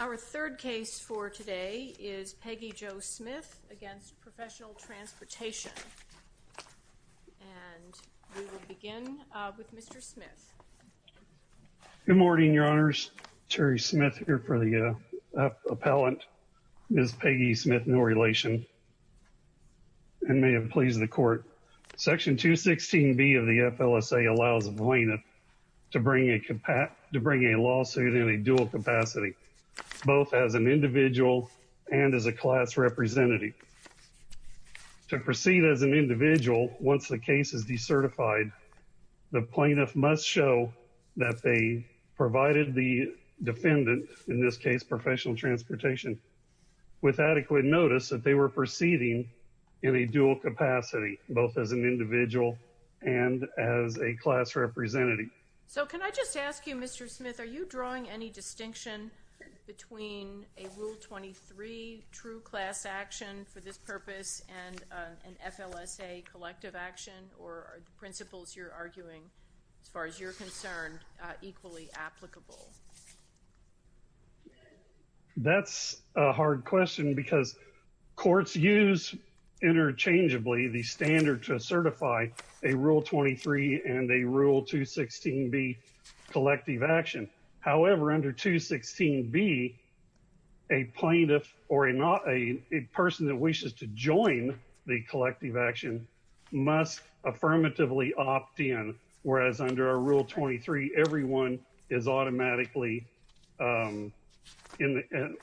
Our third case for today is Peggy Jo Smith v. Professional Transportation, and we will begin with Mr. Smith. Good morning, Your Honors. Terry Smith here for the appellant. Ms. Peggy Smith, no relation, and may it please the Court. Section 216B of the FLSA allows a plaintiff to bring a lawsuit in a dual capacity, both as an individual and as a class representative. To proceed as an individual, once the case is decertified, the plaintiff must show that they provided the defendant, in this case Professional Transportation, with adequate notice that they were proceeding in a dual capacity, both as an individual and as a class representative. So can I just ask you, Mr. Smith, are you drawing any distinction between a Rule 23 true class action for this purpose and an FLSA collective action? Or are the principles you're arguing, as far as you're concerned, equally applicable? That's a hard question because courts use interchangeably the standard to certify a Rule 23 and a Rule 216B collective action. However, under 216B, a plaintiff or a person that wishes to join the collective action must affirmatively opt in, whereas under a Rule 23, everyone is automatically,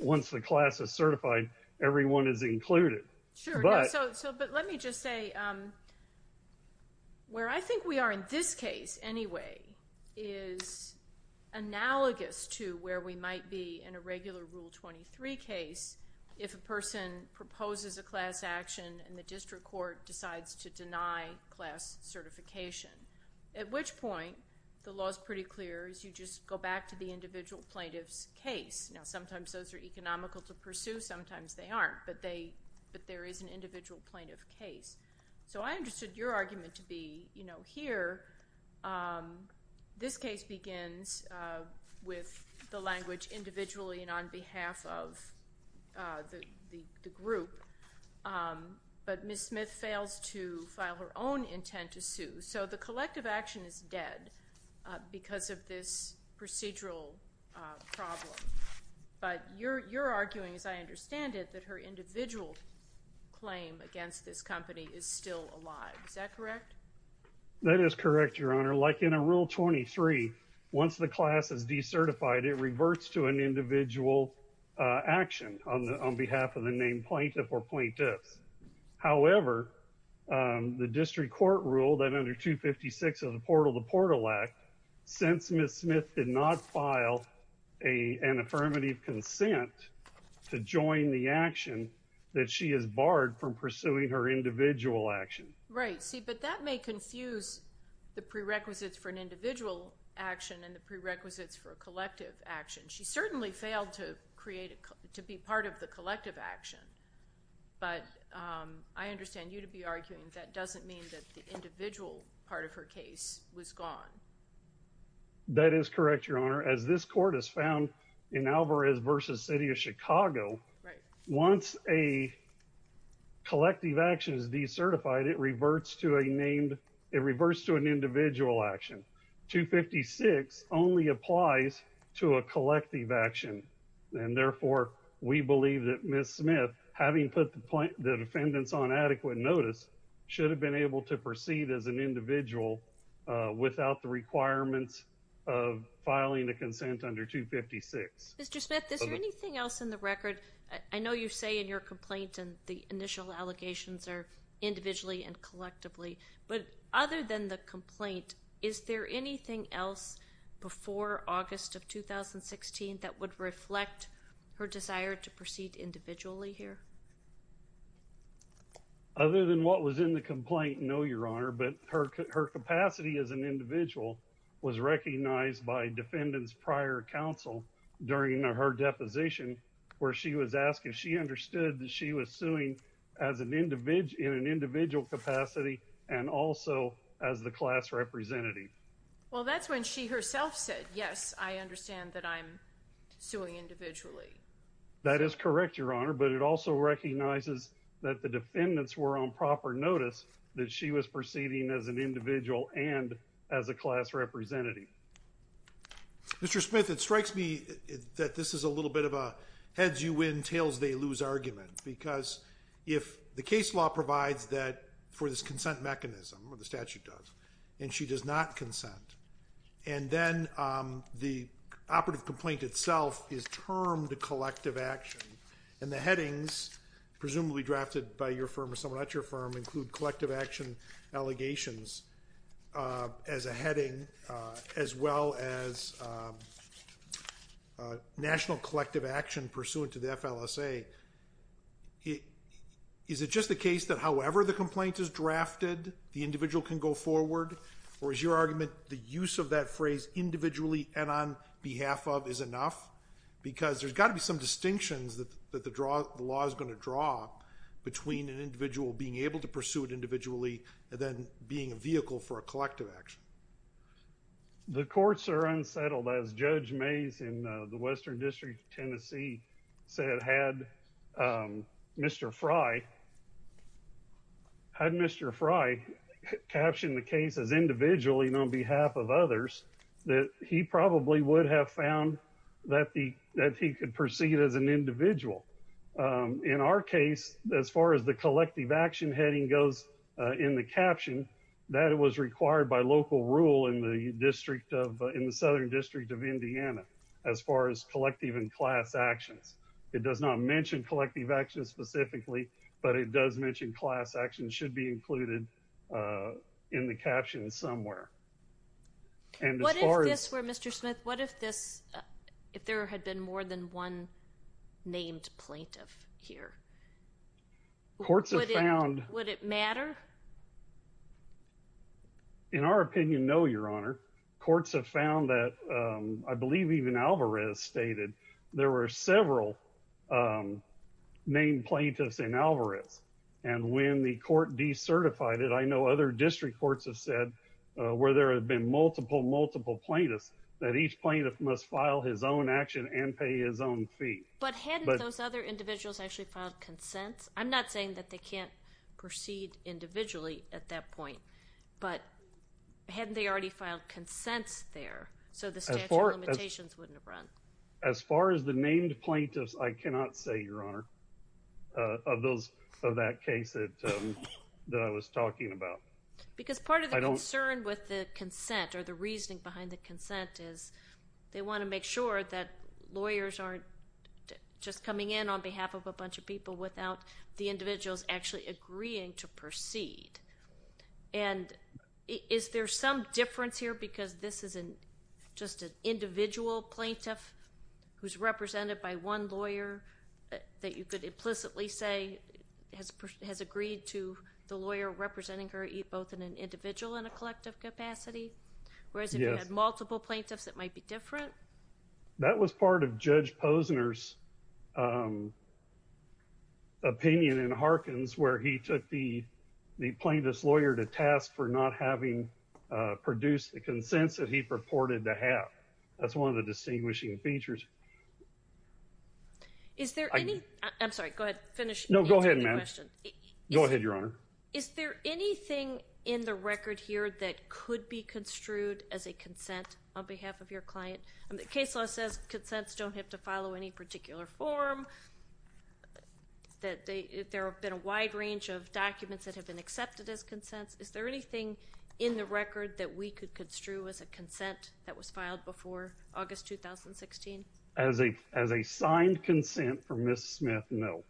once the class is certified, everyone is included. But let me just say, where I think we are in this case, anyway, is analogous to where we might be in a regular Rule 23 case if a person proposes a class action and the district court decides to deny class certification. At which point, the law is pretty clear, you just go back to the individual plaintiff's case. Now, sometimes those are economical to pursue, sometimes they aren't. But there is an individual plaintiff case. So I understood your argument to be, you know, here, this case begins with the language individually and on behalf of the group. But Ms. Smith fails to file her own intent to sue. So the collective action is dead because of this procedural problem. But you're arguing, as I understand it, that her individual claim against this company is still alive. Is that correct? That is correct, Your Honor. Like in a Rule 23, once the class is decertified, it reverts to an individual action on behalf of the named plaintiff or plaintiffs. However, the district court ruled that under 256 of the Portal to Portal Act, since Ms. Smith did not file an affirmative consent to join the action, that she is barred from pursuing her individual action. Right, see, but that may confuse the prerequisites for an individual action and the prerequisites for a collective action. She certainly failed to be part of the collective action, but I understand you to be arguing that doesn't mean that the individual part of her case was gone. That is correct, Your Honor. As this court has found in Alvarez v. City of Chicago, once a collective action is decertified, it reverts to an individual action. 256 only applies to a collective action. And therefore, we believe that Ms. Smith, having put the defendants on adequate notice, should have been able to proceed as an individual without the requirements of filing a consent under 256. Mr. Smith, is there anything else in the record? I know you say in your complaint and the initial allegations are individually and collectively, but other than the complaint, is there anything else before August of 2016 that would reflect her desire to proceed individually here? Other than what was in the complaint, no, Your Honor, but her capacity as an individual was recognized by defendants prior counsel during her deposition where she was asked if she understood that she was suing in an individual capacity and also as the class representative. Well, that's when she herself said, yes, I understand that I'm suing individually. That is correct, Your Honor, but it also recognizes that the defendants were on proper notice that she was proceeding as an individual and as a class representative. Mr. Smith, it strikes me that this is a little bit of a heads-you-win, tails-they-lose argument because if the case law provides that for this consent mechanism, or the statute does, and she does not consent, and then the operative complaint itself is termed a collective action and the headings, presumably drafted by your firm or someone at your firm, include collective action allegations as a heading as well as national collective action pursuant to the FLSA, is it just the case that however the complaint is drafted, the individual can go forward, or is your argument the use of that phrase individually and on behalf of is enough? Because there's got to be some distinctions that the law is going to draw between an individual being able to pursue it individually and then being a vehicle for a collective action. The courts are unsettled, as Judge Mays in the Western District of Tennessee said, had Mr. Frye captioned the case as individually and on behalf of others, that he probably would have found that he could proceed as an individual. In our case, as far as the collective action heading goes in the caption, that was required by local rule in the Southern District of Indiana as far as collective and class actions. It does not mention collective actions specifically, but it does mention class actions should be included in the caption somewhere. What if this were Mr. Smith, what if there had been more than one named plaintiff here? Would it matter? In our opinion, no, Your Honor. Courts have found that, I believe even Alvarez stated, there were several named plaintiffs in Alvarez. And when the court decertified it, I know other district courts have said, where there have been multiple, multiple plaintiffs, that each plaintiff must file his own action and pay his own fee. But hadn't those other individuals actually filed consents? I'm not saying that they can't proceed individually at that point, but hadn't they already filed consents there so the statute of limitations wouldn't have run? As far as the named plaintiffs, I cannot say, Your Honor, of that case that I was talking about. Because part of the concern with the consent or the reasoning behind the consent is they want to make sure that lawyers aren't just coming in on behalf of a bunch of people without the individuals actually agreeing to proceed. And is there some difference here because this isn't just an individual plaintiff who's represented by one lawyer that you could implicitly say has agreed to the lawyer representing her both in an individual and a collective capacity? Yes. Whereas if you had multiple plaintiffs, it might be different? That was part of Judge Posner's opinion in Harkins where he took the plaintiff's lawyer to task for not having produced the consents that he purported to have. That's one of the distinguishing features. Is there any, I'm sorry, go ahead, finish. No, go ahead, ma'am. Answer the question. Go ahead, Your Honor. Is there anything in the record here that could be construed as a consent on behalf of your client? The case law says consents don't have to follow any particular form, that there have been a wide range of documents that have been accepted as consents. Is there anything in the record that we could construe as a consent that was filed before August 2016? As a signed consent from Ms. Smith, no.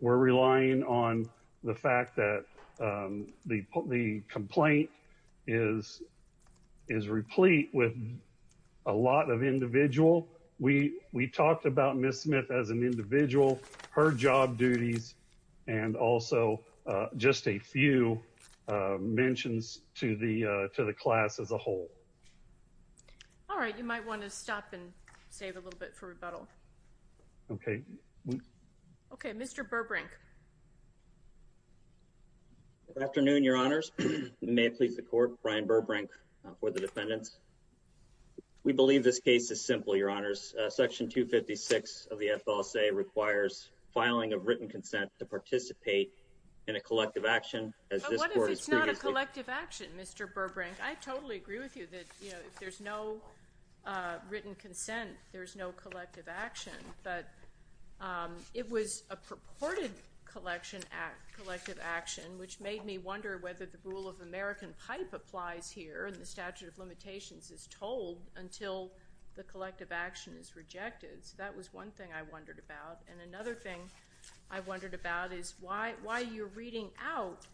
We're relying on the fact that the complaint is replete with a lot of individual. We talked about Ms. Smith as an individual, her job duties, and also just a few mentions to the class as a whole. All right, you might want to stop and save a little bit for rebuttal. Okay. Okay, Mr. Burbank. Good afternoon, Your Honors. May it please the Court, Brian Burbank for the defendants. We believe this case is simple, Your Honors. Section 256 of the FLSA requires filing of written consent to participate in a collective action, as this Court has previously— But what if it's not a collective action, Mr. Burbank? I totally agree with you that, you know, if there's no written consent, there's no collective action. But it was a purported collective action, which made me wonder whether the rule of American pipe applies here, and the statute of limitations is told until the collective action is rejected. So that was one thing I wondered about. And another thing I wondered about is why you're reading out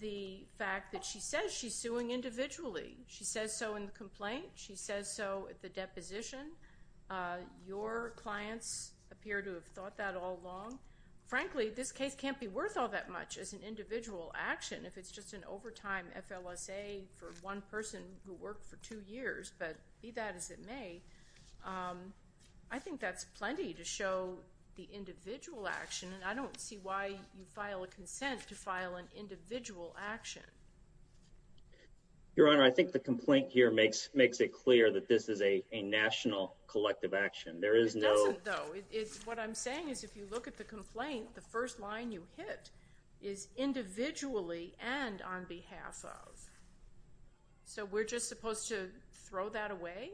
the fact that she says she's suing individually. She says so in the complaint. She says so at the deposition. Your clients appear to have thought that all along. Frankly, this case can't be worth all that much as an individual action, if it's just an overtime FLSA for one person who worked for two years. But be that as it may, I think that's plenty to show the individual action, and I don't see why you file a consent to file an individual action. Your Honor, I think the complaint here makes it clear that this is a national collective action. There is no— It doesn't, though. What I'm saying is if you look at the complaint, the first line you hit is individually and on behalf of. So we're just supposed to throw that away?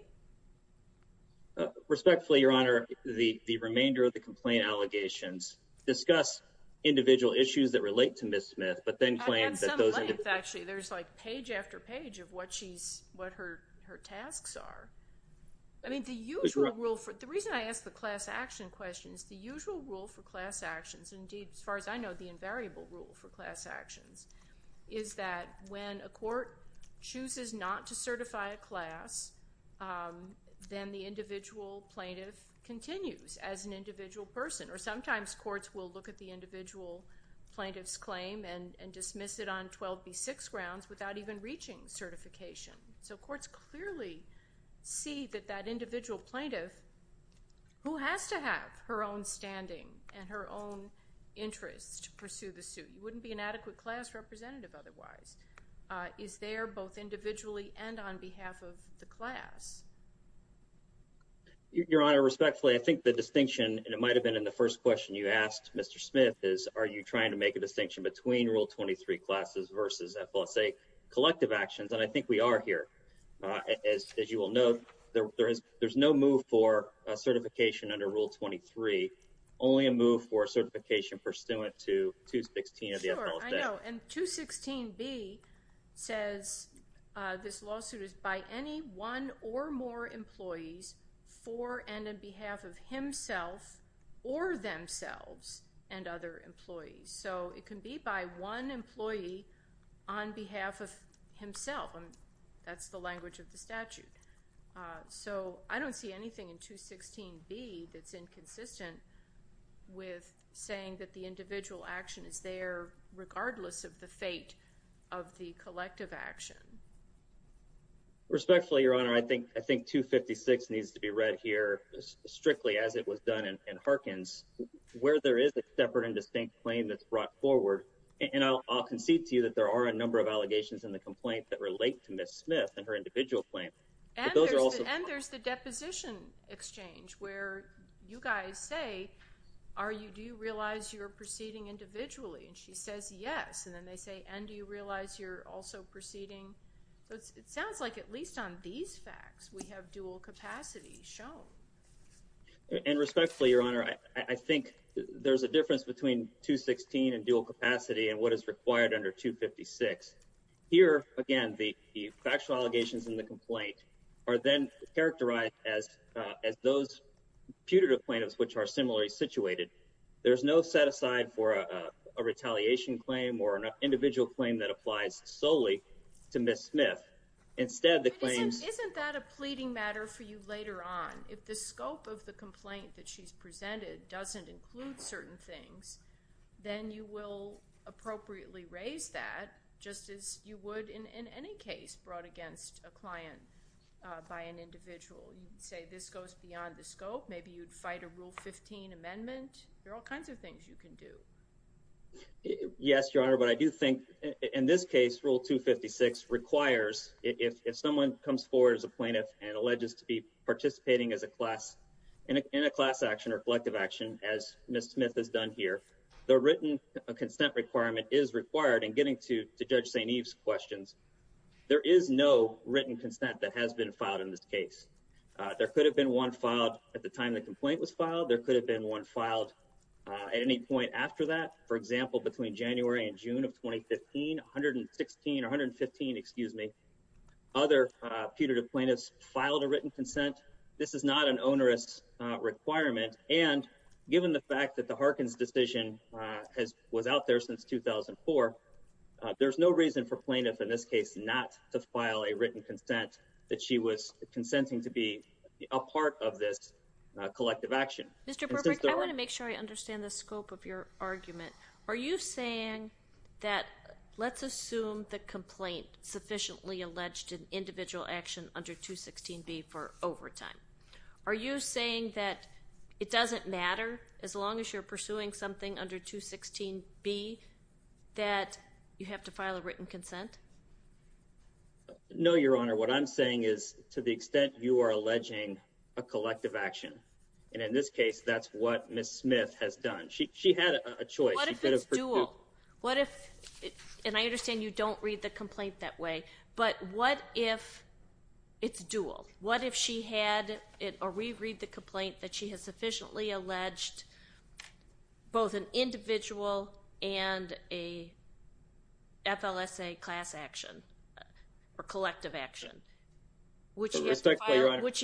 Respectfully, Your Honor, the remainder of the complaint allegations discuss individual issues that relate to Ms. Smith, but then claim that those— I've had some length, actually. There's like page after page of what her tasks are. I mean, the usual rule for—the reason I ask the class action question is the usual rule for class actions, and indeed, as far as I know, the invariable rule for class actions, is that when a court chooses not to certify a class, then the individual plaintiff continues as an individual person. Or sometimes courts will look at the individual plaintiff's claim and dismiss it on 12B6 grounds without even reaching certification. So courts clearly see that that individual plaintiff, who has to have her own standing and her own interests to pursue the suit. You wouldn't be an adequate class representative otherwise. Is there both individually and on behalf of the class? Your Honor, respectfully, I think the distinction, and it might have been in the first question you asked Mr. Smith, is are you trying to make a distinction between Rule 23 classes versus FLSA collective actions? And I think we are here. As you will note, there's no move for certification under Rule 23, only a move for certification pursuant to 216 of the FLSA. Sure, I know. And 216B says this lawsuit is by any one or more employees for and on behalf of himself or themselves and other employees. So it can be by one employee on behalf of himself. That's the language of the statute. So I don't see anything in 216B that's inconsistent with saying that the individual action is there regardless of the fate of the collective action. Respectfully, Your Honor, I think 256 needs to be read here strictly as it was done in Harkins, where there is a separate and distinct claim that's brought forward. And I'll concede to you that there are a number of allegations in the complaint that relate to Ms. Smith and her individual claim. And there's the deposition exchange where you guys say, do you realize you're proceeding individually? And she says yes, and then they say, and do you realize you're also proceeding? It sounds like at least on these facts we have dual capacity shown. And respectfully, Your Honor, I think there's a difference between 216 and dual capacity and what is required under 256. Here, again, the factual allegations in the complaint are then characterized as those putative plaintiffs which are similarly situated. There's no set aside for a retaliation claim or an individual claim that applies solely to Ms. Smith. Isn't that a pleading matter for you later on? If the scope of the complaint that she's presented doesn't include certain things, then you will appropriately raise that just as you would in any case brought against a client by an individual. You'd say this goes beyond the scope. Maybe you'd fight a Rule 15 amendment. There are all kinds of things you can do. Yes, Your Honor, but I do think in this case, Rule 256 requires if someone comes forward as a plaintiff and alleges to be participating in a class action or collective action, as Ms. Smith has done here, the written consent requirement is required in getting to Judge St. Eve's questions. There is no written consent that has been filed in this case. There could have been one filed at the time the complaint was filed. There could have been one filed at any point after that. For example, between January and June of 2015, 116 or 115, excuse me, other putative plaintiffs filed a written consent. This is not an onerous requirement. And given the fact that the Harkins decision was out there since 2004, there's no reason for plaintiff in this case not to file a written consent that she was consenting to be a part of this collective action. Mr. Burbrick, I want to make sure I understand the scope of your argument. Are you saying that let's assume the complaint sufficiently alleged an individual action under 216B for overtime. Are you saying that it doesn't matter as long as you're pursuing something under 216B that you have to file a written consent? No, Your Honor. What I'm saying is to the extent you are alleging a collective action, and in this case, that's what Ms. Smith has done. She had a choice. What if it's dual? What if, and I understand you don't read the complaint that way, but what if it's dual? What if she had, or we read the complaint that she has sufficiently alleged both an individual and a FLSA class action or collective action? Would she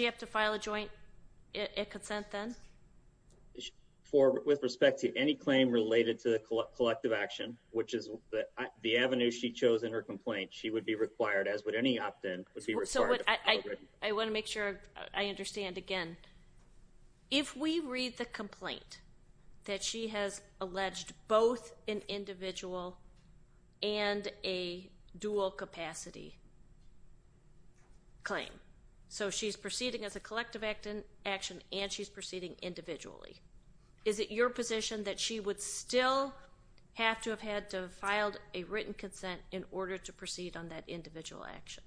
have to file a joint consent then? With respect to any claim related to the collective action, which is the avenue she chose in her complaint, she would be required, as would any opt-in, would be required to file a written consent. I want to make sure I understand. Again, if we read the complaint that she has alleged both an individual and a dual capacity claim, so she's proceeding as a collective action and she's proceeding individually, is it your position that she would still have to have had to have filed a written consent in order to proceed on that individual action?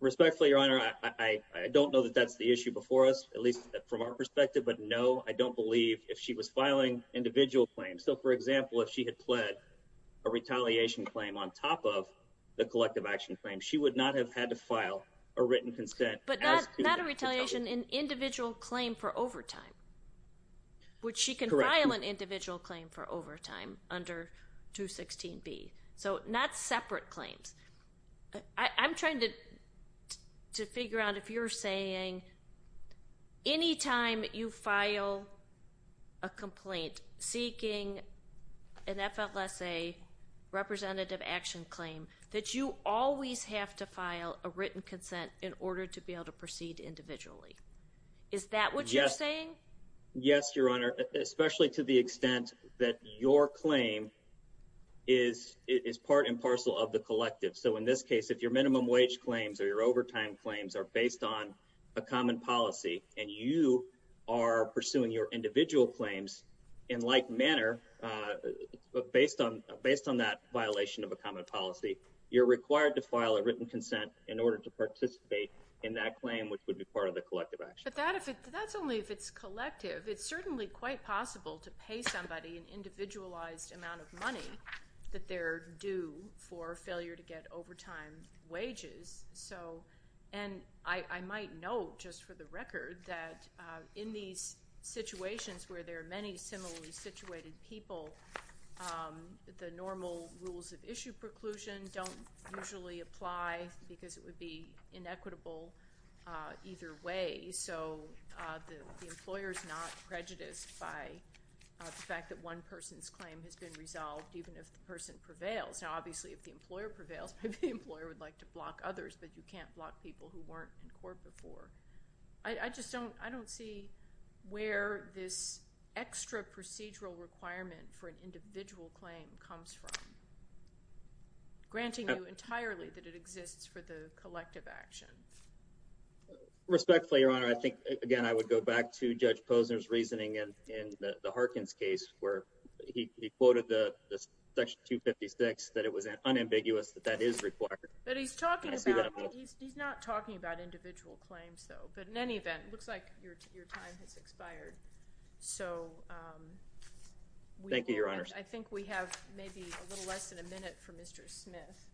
Respectfully, Your Honor, I don't know that that's the issue before us, at least from our perspective, but no, I don't believe if she was filing individual claims. So, for example, if she had pled a retaliation claim on top of the collective action claim, she would not have had to file a written consent. But not a retaliation, an individual claim for overtime, which she can file an individual claim for overtime under 216B. So not separate claims. I'm trying to figure out if you're saying any time you file a complaint seeking an FLSA representative action claim, that you always have to file a written consent in order to be able to proceed individually. Is that what you're saying? Yes, Your Honor, especially to the extent that your claim is part and parcel of the collective. So in this case, if your minimum wage claims or your overtime claims are based on a common policy and you are pursuing your individual claims in like manner, based on that violation of a common policy, you're required to file a written consent in order to participate in that claim, which would be part of the collective action. But that's only if it's collective. It's certainly quite possible to pay somebody an individualized amount of money that they're due for failure to get overtime wages. And I might note, just for the record, that in these situations where there are many similarly situated people, the normal rules of issue preclusion don't usually apply because it would be inequitable either way. So the employer is not prejudiced by the fact that one person's claim has been resolved, even if the person prevails. Now, obviously, if the employer prevails, maybe the employer would like to block others, but you can't block people who weren't in court before. I just don't see where this extra procedural requirement for an individual claim comes from, granting you entirely that it exists for the collective action. Respectfully, Your Honor, I think, again, I would go back to Judge Posner's reasoning in the Harkins case where he quoted Section 256, that it was unambiguous that that is required. But he's not talking about individual claims, though. But in any event, it looks like your time has expired. Thank you, Your Honor. I think we have maybe a little less than a minute for Mr. Smith.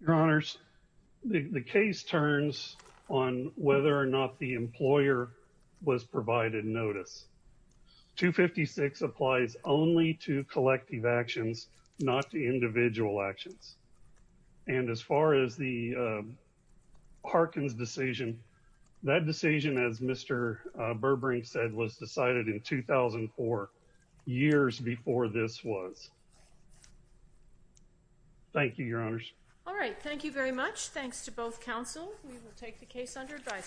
Your Honors, the case turns on whether or not the employer was provided notice. 256 applies only to collective actions, not to individual actions. And as far as the Harkins decision, that decision, as Mr. Burbrink said, was decided in 2004, years before this was. Thank you, Your Honors. All right. Thank you very much. Thanks to both counsel. We will take the case under advisory.